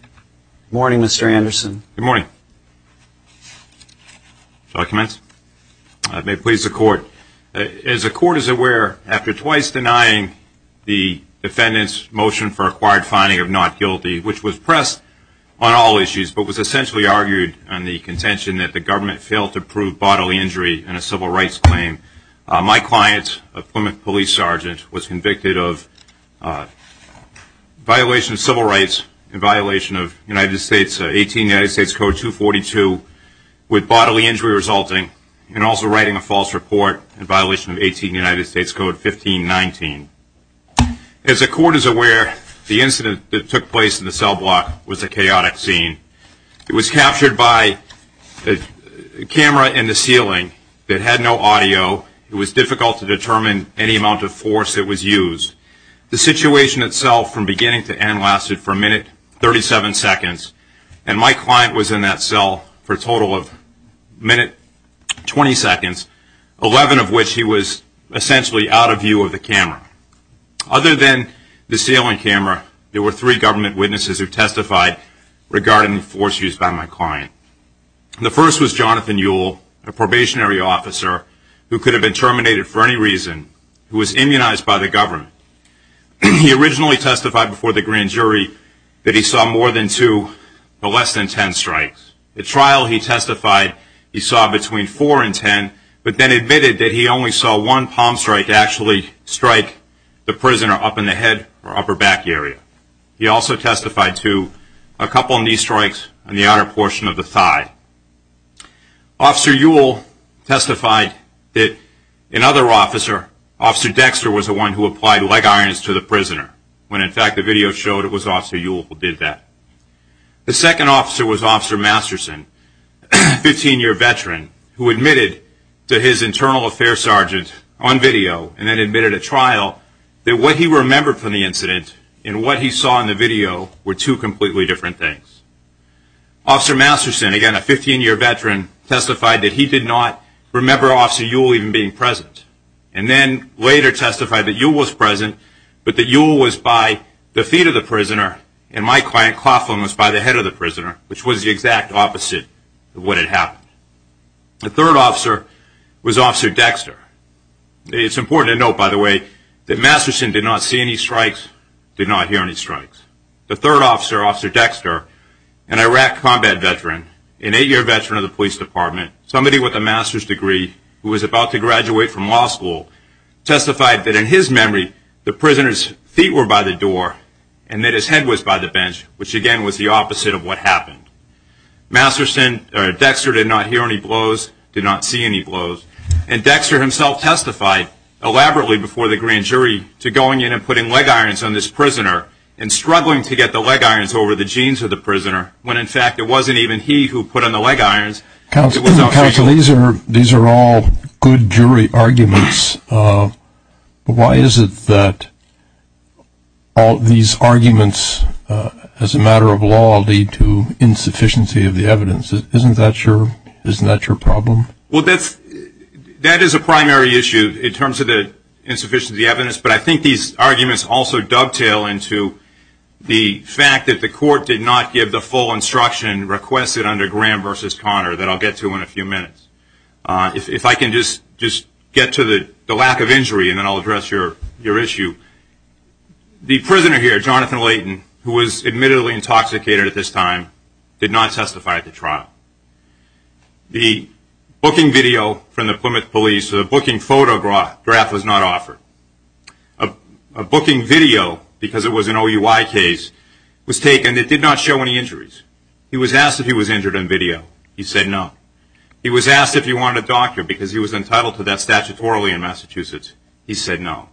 Good morning, Mr. Anderson. Good morning. Shall I commence? I may please the court. As the court is aware, after twice denying the defendant's motion for acquired finding of not guilty, which was pressed on all issues but was essentially argued on the contention that the government failed to prove bodily injury in a civil rights claim, my client, a Plymouth police sergeant, was convicted of violation of civil rights and violation of 18 United States Code 242 with bodily injury resulting and also writing a false report in violation of 18 United States Code 1519. As the court is aware, the incident that took place in the cell block was a chaotic scene. It was captured by a camera in the ceiling that had no audio. It was difficult to determine any amount of force that was used. The situation itself from beginning to end lasted for a minute, 37 seconds, and my client was in that cell for a total of a minute, 20 seconds, 11 of which he was essentially out of view of the camera. Other than the ceiling camera, there were three government witnesses who testified regarding the force used by my client. The first was Jonathan Yule, a probationary officer who could have been terminated for any reason, who was immunized by the government. He originally testified before the grand jury that he saw more than two, but less than 10 strikes. At trial, he testified he saw between four and 10, but then admitted that he only saw one palm strike actually strike the prisoner up in the head or upper back area. He also testified to a couple knee strikes on the outer portion of the thigh. Officer Yule testified that another officer, Officer Dexter, was the one who applied leg irons to the prisoner, when in fact the video showed it was Officer Yule who did that. The second officer was Officer Masterson, a 15-year veteran, who admitted to his internal affairs sergeant on video and then admitted at trial that what he remembered from the incident and what he saw in the video were two completely different things. Officer Masterson, again, a 15-year veteran, testified that he did not remember Officer Yule even being present and then later testified that Yule was present, but that Yule was by the feet of the prisoner and my client Coughlin was by the head of the prisoner, which was the exact opposite of what had happened. The third officer was Officer Dexter. It's important to note, by the way, that Masterson did not see any strikes, did not hear any strikes. The third officer, Officer Dexter, an Iraq combat veteran, an eight-year veteran of the police department, somebody with a master's degree who was about to graduate from law school, testified that in his memory the prisoner's feet were by the door and that his head was by the bench, which again was the opposite of what happened. Dexter did not hear any blows, did not see any blows. And Dexter himself testified elaborately before the grand jury to going in and putting leg irons on this prisoner and struggling to get the leg irons over the jeans of the prisoner when, in fact, it wasn't even he who put on the leg irons. Counsel, these are all good jury arguments. Why is it that all these arguments as a matter of law lead to insufficiency of the evidence? Isn't that your problem? Well, that is a primary issue in terms of the insufficiency of the evidence, but I think these arguments also dovetail into the fact that the court did not give the full instruction requested under Graham versus Connor that I'll get to in a few minutes. If I can just get to the lack of injury and then I'll address your issue. The prisoner here, Jonathan Layton, who was admittedly intoxicated at this time, did not testify at the trial. The booking video from the Plymouth police, the booking photograph, was not offered. A booking video, because it was an OUI case, was taken. It did not show any injuries. He was asked if he was injured on video. He said no. He was asked if he wanted a doctor because he was entitled to that statutorily in Massachusetts. He said no.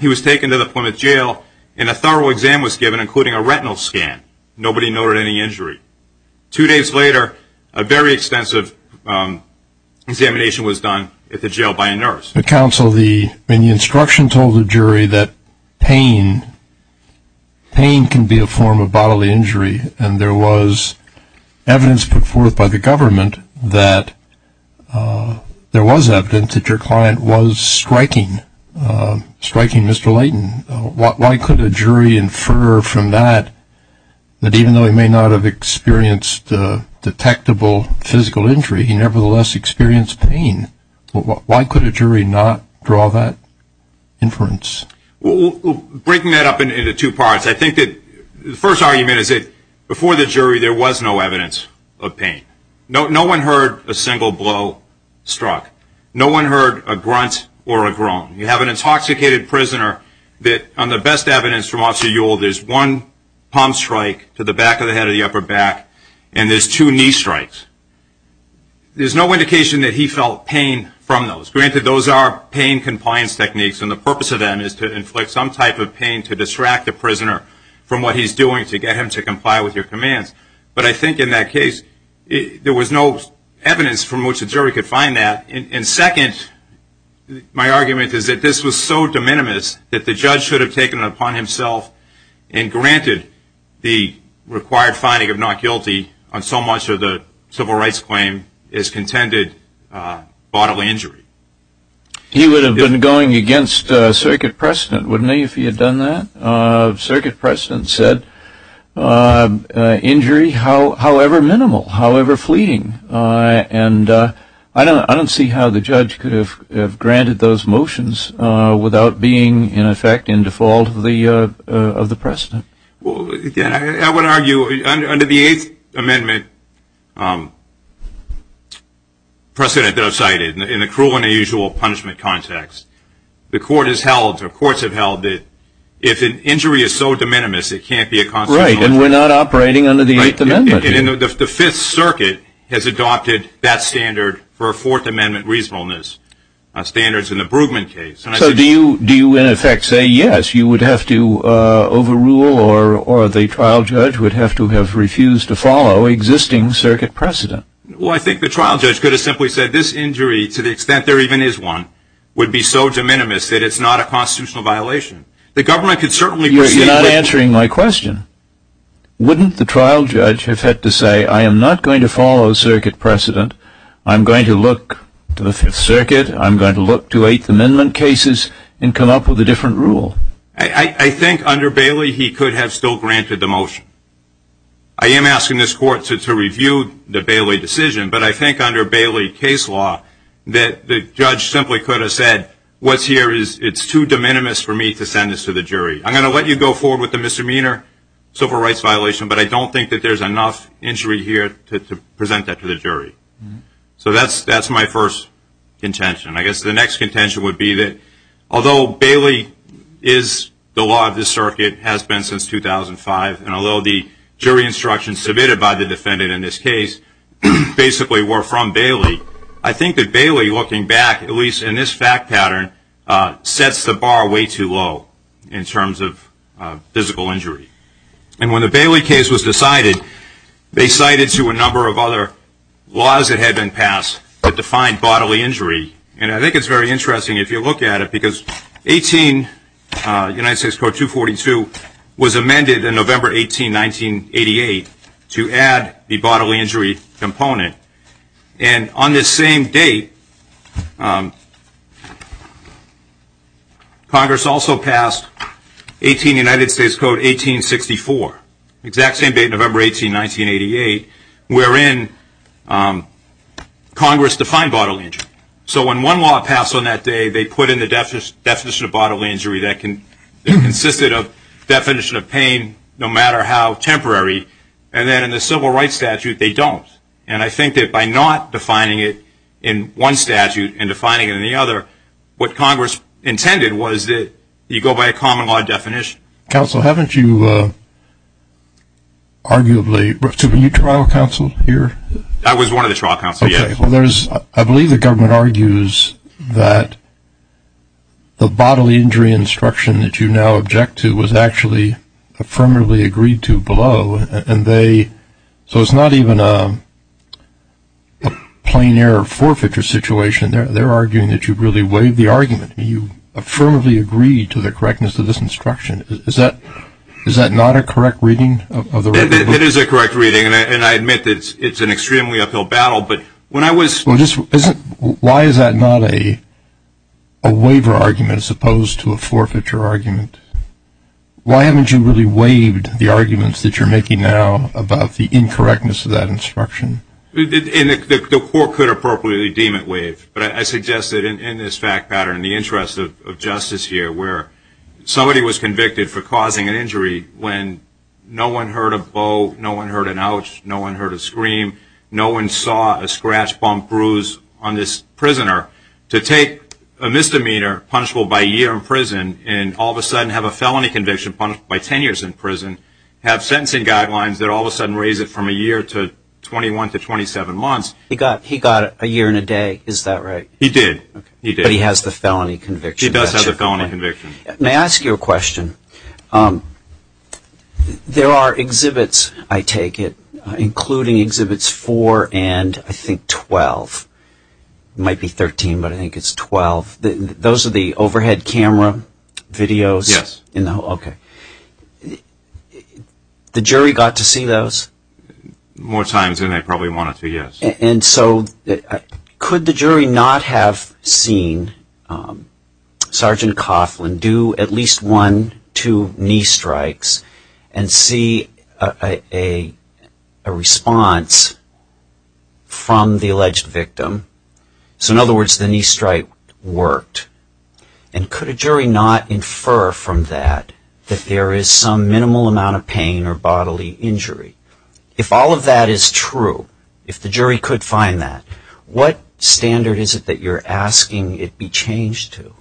He was taken to the Plymouth jail and a thorough exam was given, including a retinal scan. Nobody noted any injury. Two days later, a very extensive examination was done at the jail by a nurse. But, counsel, the instruction told the jury that pain can be a form of bodily injury, and there was evidence put forth by the government that there was evidence that your client was striking Mr. Layton. Why could a jury infer from that that even though he may not have experienced detectable physical injury, he nevertheless experienced pain? Why could a jury not draw that inference? Well, breaking that up into two parts, I think that the first argument is that before the jury, there was no evidence of pain. No one heard a single blow struck. No one heard a grunt or a groan. You have an intoxicated prisoner that, on the best evidence from Officer Yule, there's one palm strike to the back of the head or the upper back, and there's two knee strikes. There's no indication that he felt pain from those. Granted, those are pain compliance techniques, and the purpose of them is to inflict some type of pain to distract the prisoner from what he's doing to get him to comply with your commands. But I think in that case, there was no evidence from which a jury could find that. And second, my argument is that this was so de minimis that the judge should have taken it upon himself and granted the required finding of not guilty on so much of the civil rights claim as contended bodily injury. He would have been going against circuit precedent, wouldn't he, if he had done that? Circuit precedent said injury, however minimal, however fleeting. And I don't see how the judge could have granted those motions without being, in effect, in default of the precedent. Well, again, I would argue under the Eighth Amendment precedent that I've cited, in a cruel and unusual punishment context, the court has held, or courts have held, that if an injury is so de minimis, it can't be a constitutional injury. Right, and we're not operating under the Eighth Amendment. And the Fifth Circuit has adopted that standard for a Fourth Amendment reasonableness standards in the Bruggeman case. So do you, in effect, say yes, you would have to overrule, or the trial judge would have to have refused to follow existing circuit precedent? Well, I think the trial judge could have simply said this injury, to the extent there even is one, would be so de minimis that it's not a constitutional violation. The government could certainly proceed with it. You're not answering my question. Wouldn't the trial judge have had to say, I am not going to follow circuit precedent. I'm going to look to the Fifth Circuit. I'm going to look to Eighth Amendment cases and come up with a different rule. I think under Bailey he could have still granted the motion. I am asking this court to review the Bailey decision, but I think under Bailey case law that the judge simply could have said, what's here is it's too de minimis for me to send this to the jury. I'm going to let you go forward with the misdemeanor civil rights violation, but I don't think that there's enough injury here to present that to the jury. So that's my first contention. I guess the next contention would be that although Bailey is the law of this circuit, has been since 2005, and although the jury instructions submitted by the defendant in this case basically were from Bailey, I think that Bailey, looking back, at least in this fact pattern, sets the bar way too low in terms of physical injury. And when the Bailey case was decided, they cited to a number of other laws that had been passed that defined bodily injury, and I think it's very interesting if you look at it, because United States Code 242 was amended in November 18, 1988, to add the bodily injury component. And on this same date, Congress also passed United States Code 1864, exact same date, November 18, 1988, wherein Congress defined bodily injury. So when one law passed on that day, they put in the definition of bodily injury that consisted of definition of pain no matter how temporary, and then in the civil rights statute, they don't. And I think that by not defining it in one statute and defining it in the other, what Congress intended was that you go by a common law definition. Counsel, haven't you arguably, were you trial counsel here? I was one of the trial counsel, yes. Okay. Well, I believe the government argues that the bodily injury instruction that you now object to was actually affirmatively agreed to below, and so it's not even a plain error forfeiture situation. They're arguing that you really waived the argument. You affirmatively agreed to the correctness of this instruction. Is that not a correct reading? It is a correct reading, and I admit it's an extremely uphill battle. Why is that not a waiver argument as opposed to a forfeiture argument? Why haven't you really waived the arguments that you're making now about the incorrectness of that instruction? The court could appropriately deem it waived, but I suggest that in this fact pattern in the interest of justice here where somebody was convicted for causing an injury when no one heard a bow, no one heard an ouch, no one heard a scream, no one saw a scratch, bump, bruise on this prisoner, to take a misdemeanor punishable by a year in prison and all of a sudden have a felony conviction punished by 10 years in prison, have sentencing guidelines that all of a sudden raise it from a year to 21 to 27 months. He got a year and a day. Is that right? He did. But he has the felony conviction. He does have the felony conviction. May I ask you a question? There are exhibits, I take it, including Exhibits 4 and I think 12. It might be 13, but I think it's 12. Those are the overhead camera videos? Yes. Okay. The jury got to see those? More times than they probably wanted to, yes. And so could the jury not have seen Sergeant Coughlin do at least one, two knee strikes and see a response from the alleged victim? So in other words, the knee strike worked. And could a jury not infer from that that there is some minimal amount of pain or bodily injury? If all of that is true, if the jury could find that, what standard is it that you're asking it be changed to?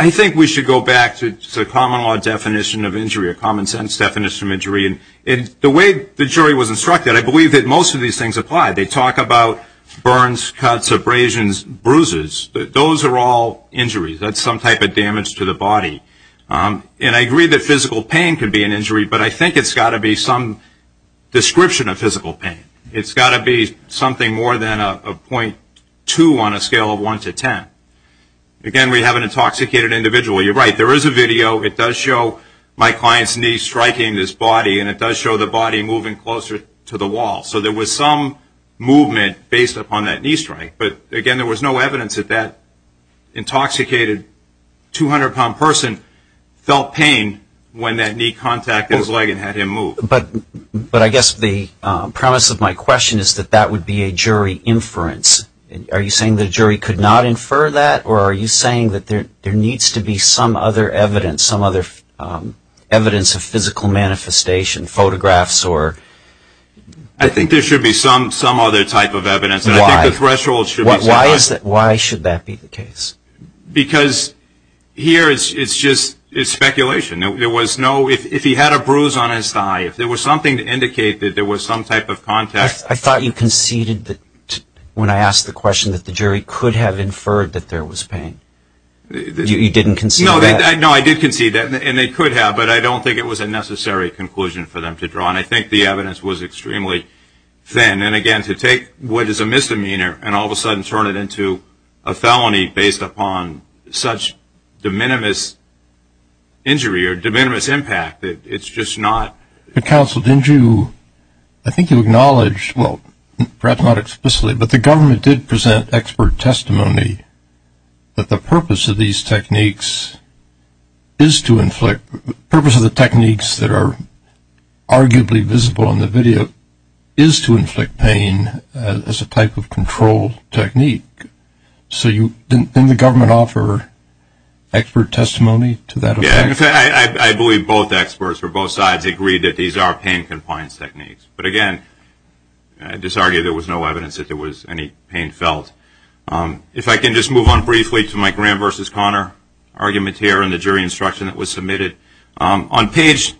I think we should go back to the common law definition of injury or common sense definition of injury. The way the jury was instructed, I believe that most of these things apply. They talk about burns, cuts, abrasions, bruises. Those are all injuries. That's some type of damage to the body. And I agree that physical pain could be an injury, but I think it's got to be some description of physical pain. It's got to be something more than a 0.2 on a scale of 1 to 10. Again, we have an intoxicated individual. You're right, there is a video. It does show my client's knee striking his body, and it does show the body moving closer to the wall. So there was some movement based upon that knee strike. But, again, there was no evidence that that intoxicated 200-pound person felt pain when that knee contacted his leg and had him move. But I guess the premise of my question is that that would be a jury inference. Are you saying the jury could not infer that, or are you saying that there needs to be some other evidence, some other evidence of physical manifestation, photographs or? I think there should be some other type of evidence. Why? Why should that be the case? Because here it's just speculation. If he had a bruise on his thigh, if there was something to indicate that there was some type of contact. I thought you conceded when I asked the question that the jury could have inferred that there was pain. You didn't concede that? No, I did concede that, and they could have, but I don't think it was a necessary conclusion for them to draw. And I think the evidence was extremely thin. And, again, to take what is a misdemeanor and all of a sudden turn it into a felony based upon such de minimis injury or de minimis impact, it's just not. Counsel, didn't you, I think you acknowledged, well, perhaps not explicitly, but the government did present expert testimony that the purpose of these techniques is to inflict, the purpose of the techniques that are arguably visible in the video is to control technique. So didn't the government offer expert testimony to that effect? I believe both experts or both sides agreed that these are pain compliance techniques. But, again, I'd just argue there was no evidence that there was any pain felt. If I can just move on briefly to my Graham v. Conner argument here and the jury instruction that was submitted. On page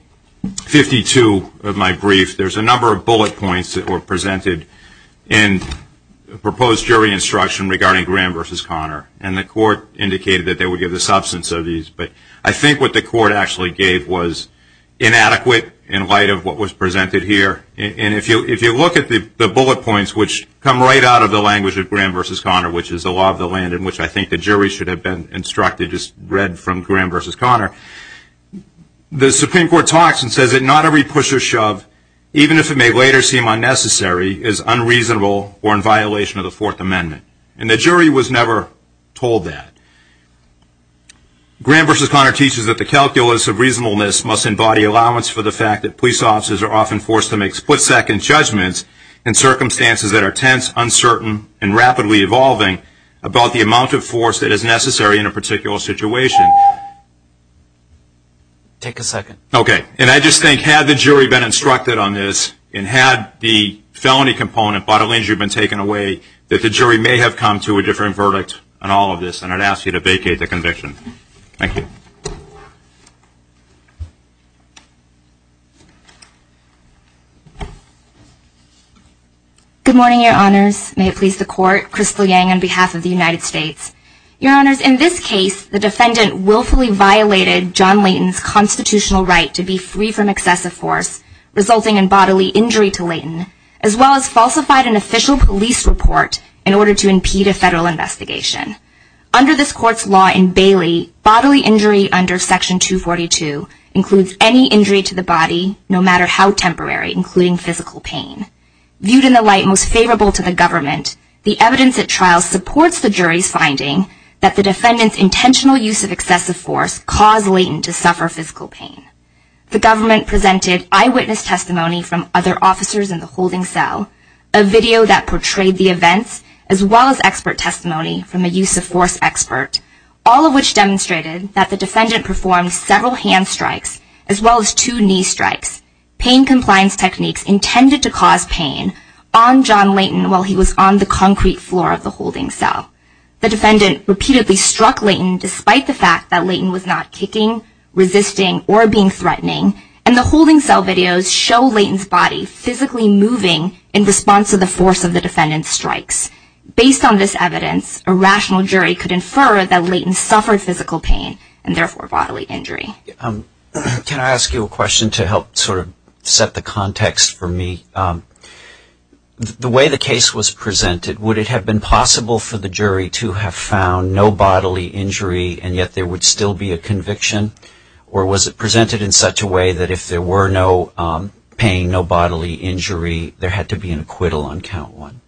52 of my brief, there's a number of bullet points that were presented in proposed jury instruction regarding Graham v. Conner. And the court indicated that they would give the substance of these. But I think what the court actually gave was inadequate in light of what was presented here. And if you look at the bullet points, which come right out of the language of Graham v. Conner, which is the law of the land, in which I think the jury should have been instructed, just read from Graham v. Conner, the Supreme Court talks and says that not every push or shove, even if it may later seem unnecessary, is unreasonable or in violation of the Fourth Amendment. And the jury was never told that. Graham v. Conner teaches that the calculus of reasonableness must embody allowance for the fact that police officers are often forced to make split-second judgments in circumstances that are tense, uncertain, and rapidly evolving about the amount of force that is necessary in a situation. Take a second. Okay. And I just think, had the jury been instructed on this and had the felony component bodily injury been taken away, that the jury may have come to a different verdict on all of this. And I'd ask you to vacate the conviction. Thank you. Good morning, Your Honors. May it please the Court. Crystal Yang on behalf of the United States. Your Honors, in this case, the defendant willfully violated John Layton's constitutional right to be free from excessive force, resulting in bodily injury to Layton, as well as falsified an official police report in order to impede a federal investigation. Under this Court's law in Bailey, bodily injury under Section 242 includes any injury to the body, no matter how temporary, including physical pain. Viewed in the light most favorable to the government, the evidence at trial supports the jury's finding that the defendant's intentional use of excessive force caused Layton to suffer physical pain. The government presented eyewitness testimony from other officers in the holding cell, a video that portrayed the events, as well as expert testimony from a use of force expert, all of which demonstrated that the defendant performed several hand strikes, as well as two knee strikes. Pain compliance techniques intended to cause pain on John Layton while he was on the concrete floor of the holding cell. The defendant repeatedly struck Layton, despite the fact that Layton was not kicking, resisting, or being threatening, and the holding cell videos show Layton's body physically moving in response to the force of the defendant's strikes. Based on this evidence, a rational jury could infer that Layton suffered physical pain, and therefore bodily injury. Can I ask you a question to help sort of set the context for me? The way the case was presented, would it have been possible for the jury to have found no bodily injury, and yet there would still be a conviction? Or was it presented in such a way that if there were no pain, no bodily injury, there had to be an acquittal on count one?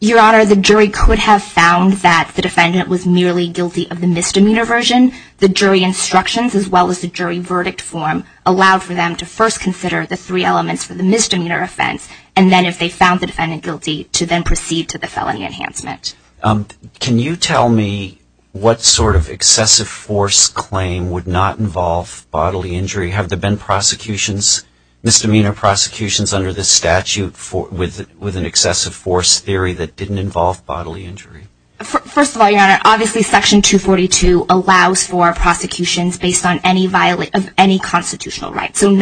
Your Honor, the jury could have found that the defendant was merely guilty of the misdemeanor version. The jury instructions, as well as the jury verdict form, allowed for them to first consider the three elements for the misdemeanor offense, and then if they found the defendant guilty, to then proceed to the felony enhancement. Can you tell me what sort of excessive force claim would not involve bodily injury? Have there been prosecutions, misdemeanor prosecutions under this statute with an excessive force theory that didn't involve bodily injury? First of all, Your Honor, obviously Section 242 allows for prosecutions based on any constitutional rights. But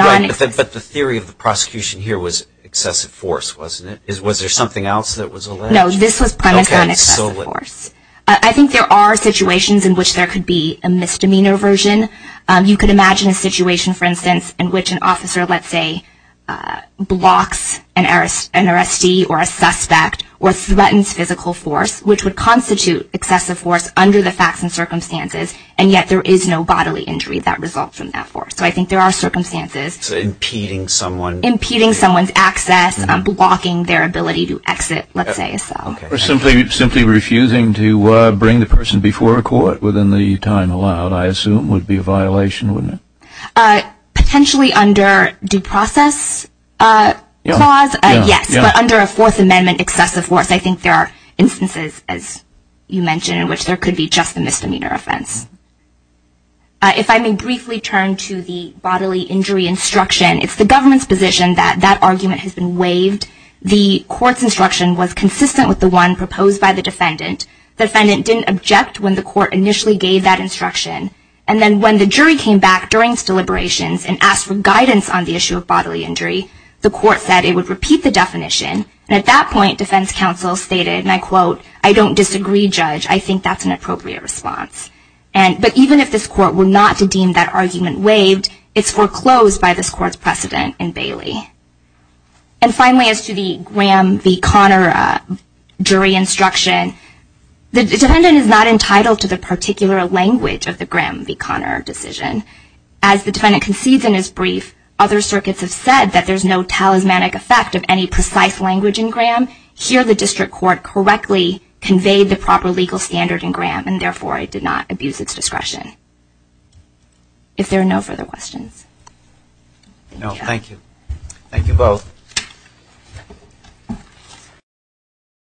the theory of the prosecution here was excessive force, wasn't it? Was there something else that was alleged? No, this was premise on excessive force. I think there are situations in which there could be a misdemeanor version. You could imagine a situation, for instance, in which an officer, let's say, blocks an arrestee or a suspect or threatens physical force, which would constitute excessive force under the facts and circumstances, and yet there is no bodily injury that results from that force. So I think there are circumstances. Impeding someone. Impeding someone's access, blocking their ability to exit, let's say. Or simply refusing to bring the person before a court within the time allowed, I assume, would be a violation, wouldn't it? Potentially under due process clause, yes. But under a Fourth Amendment excessive force, I think there are instances, as you mentioned, in which there could be just a misdemeanor offense. If I may briefly turn to the bodily injury instruction, it's the government's position that that argument has been waived. The court's instruction was consistent with the one proposed by the defendant. The defendant didn't object when the court initially gave that instruction. And then when the jury came back during its deliberations and asked for guidance on the issue of bodily injury, the court said it would repeat the definition. At that point, defense counsel stated, and I quote, I don't disagree, judge. I think that's an appropriate response. But even if this court were not to deem that argument waived, it's foreclosed by this court's precedent in Bailey. And finally, as to the Graham v. Conner jury instruction, the defendant is not entitled to the particular language of the Graham v. Conner decision. As the defendant concedes in his brief, if other circuits have said that there's no talismanic effect of any precise language in Graham, here the district court correctly conveyed the proper legal standard in Graham and therefore it did not abuse its discretion. If there are no further questions. No, thank you. Thank you both.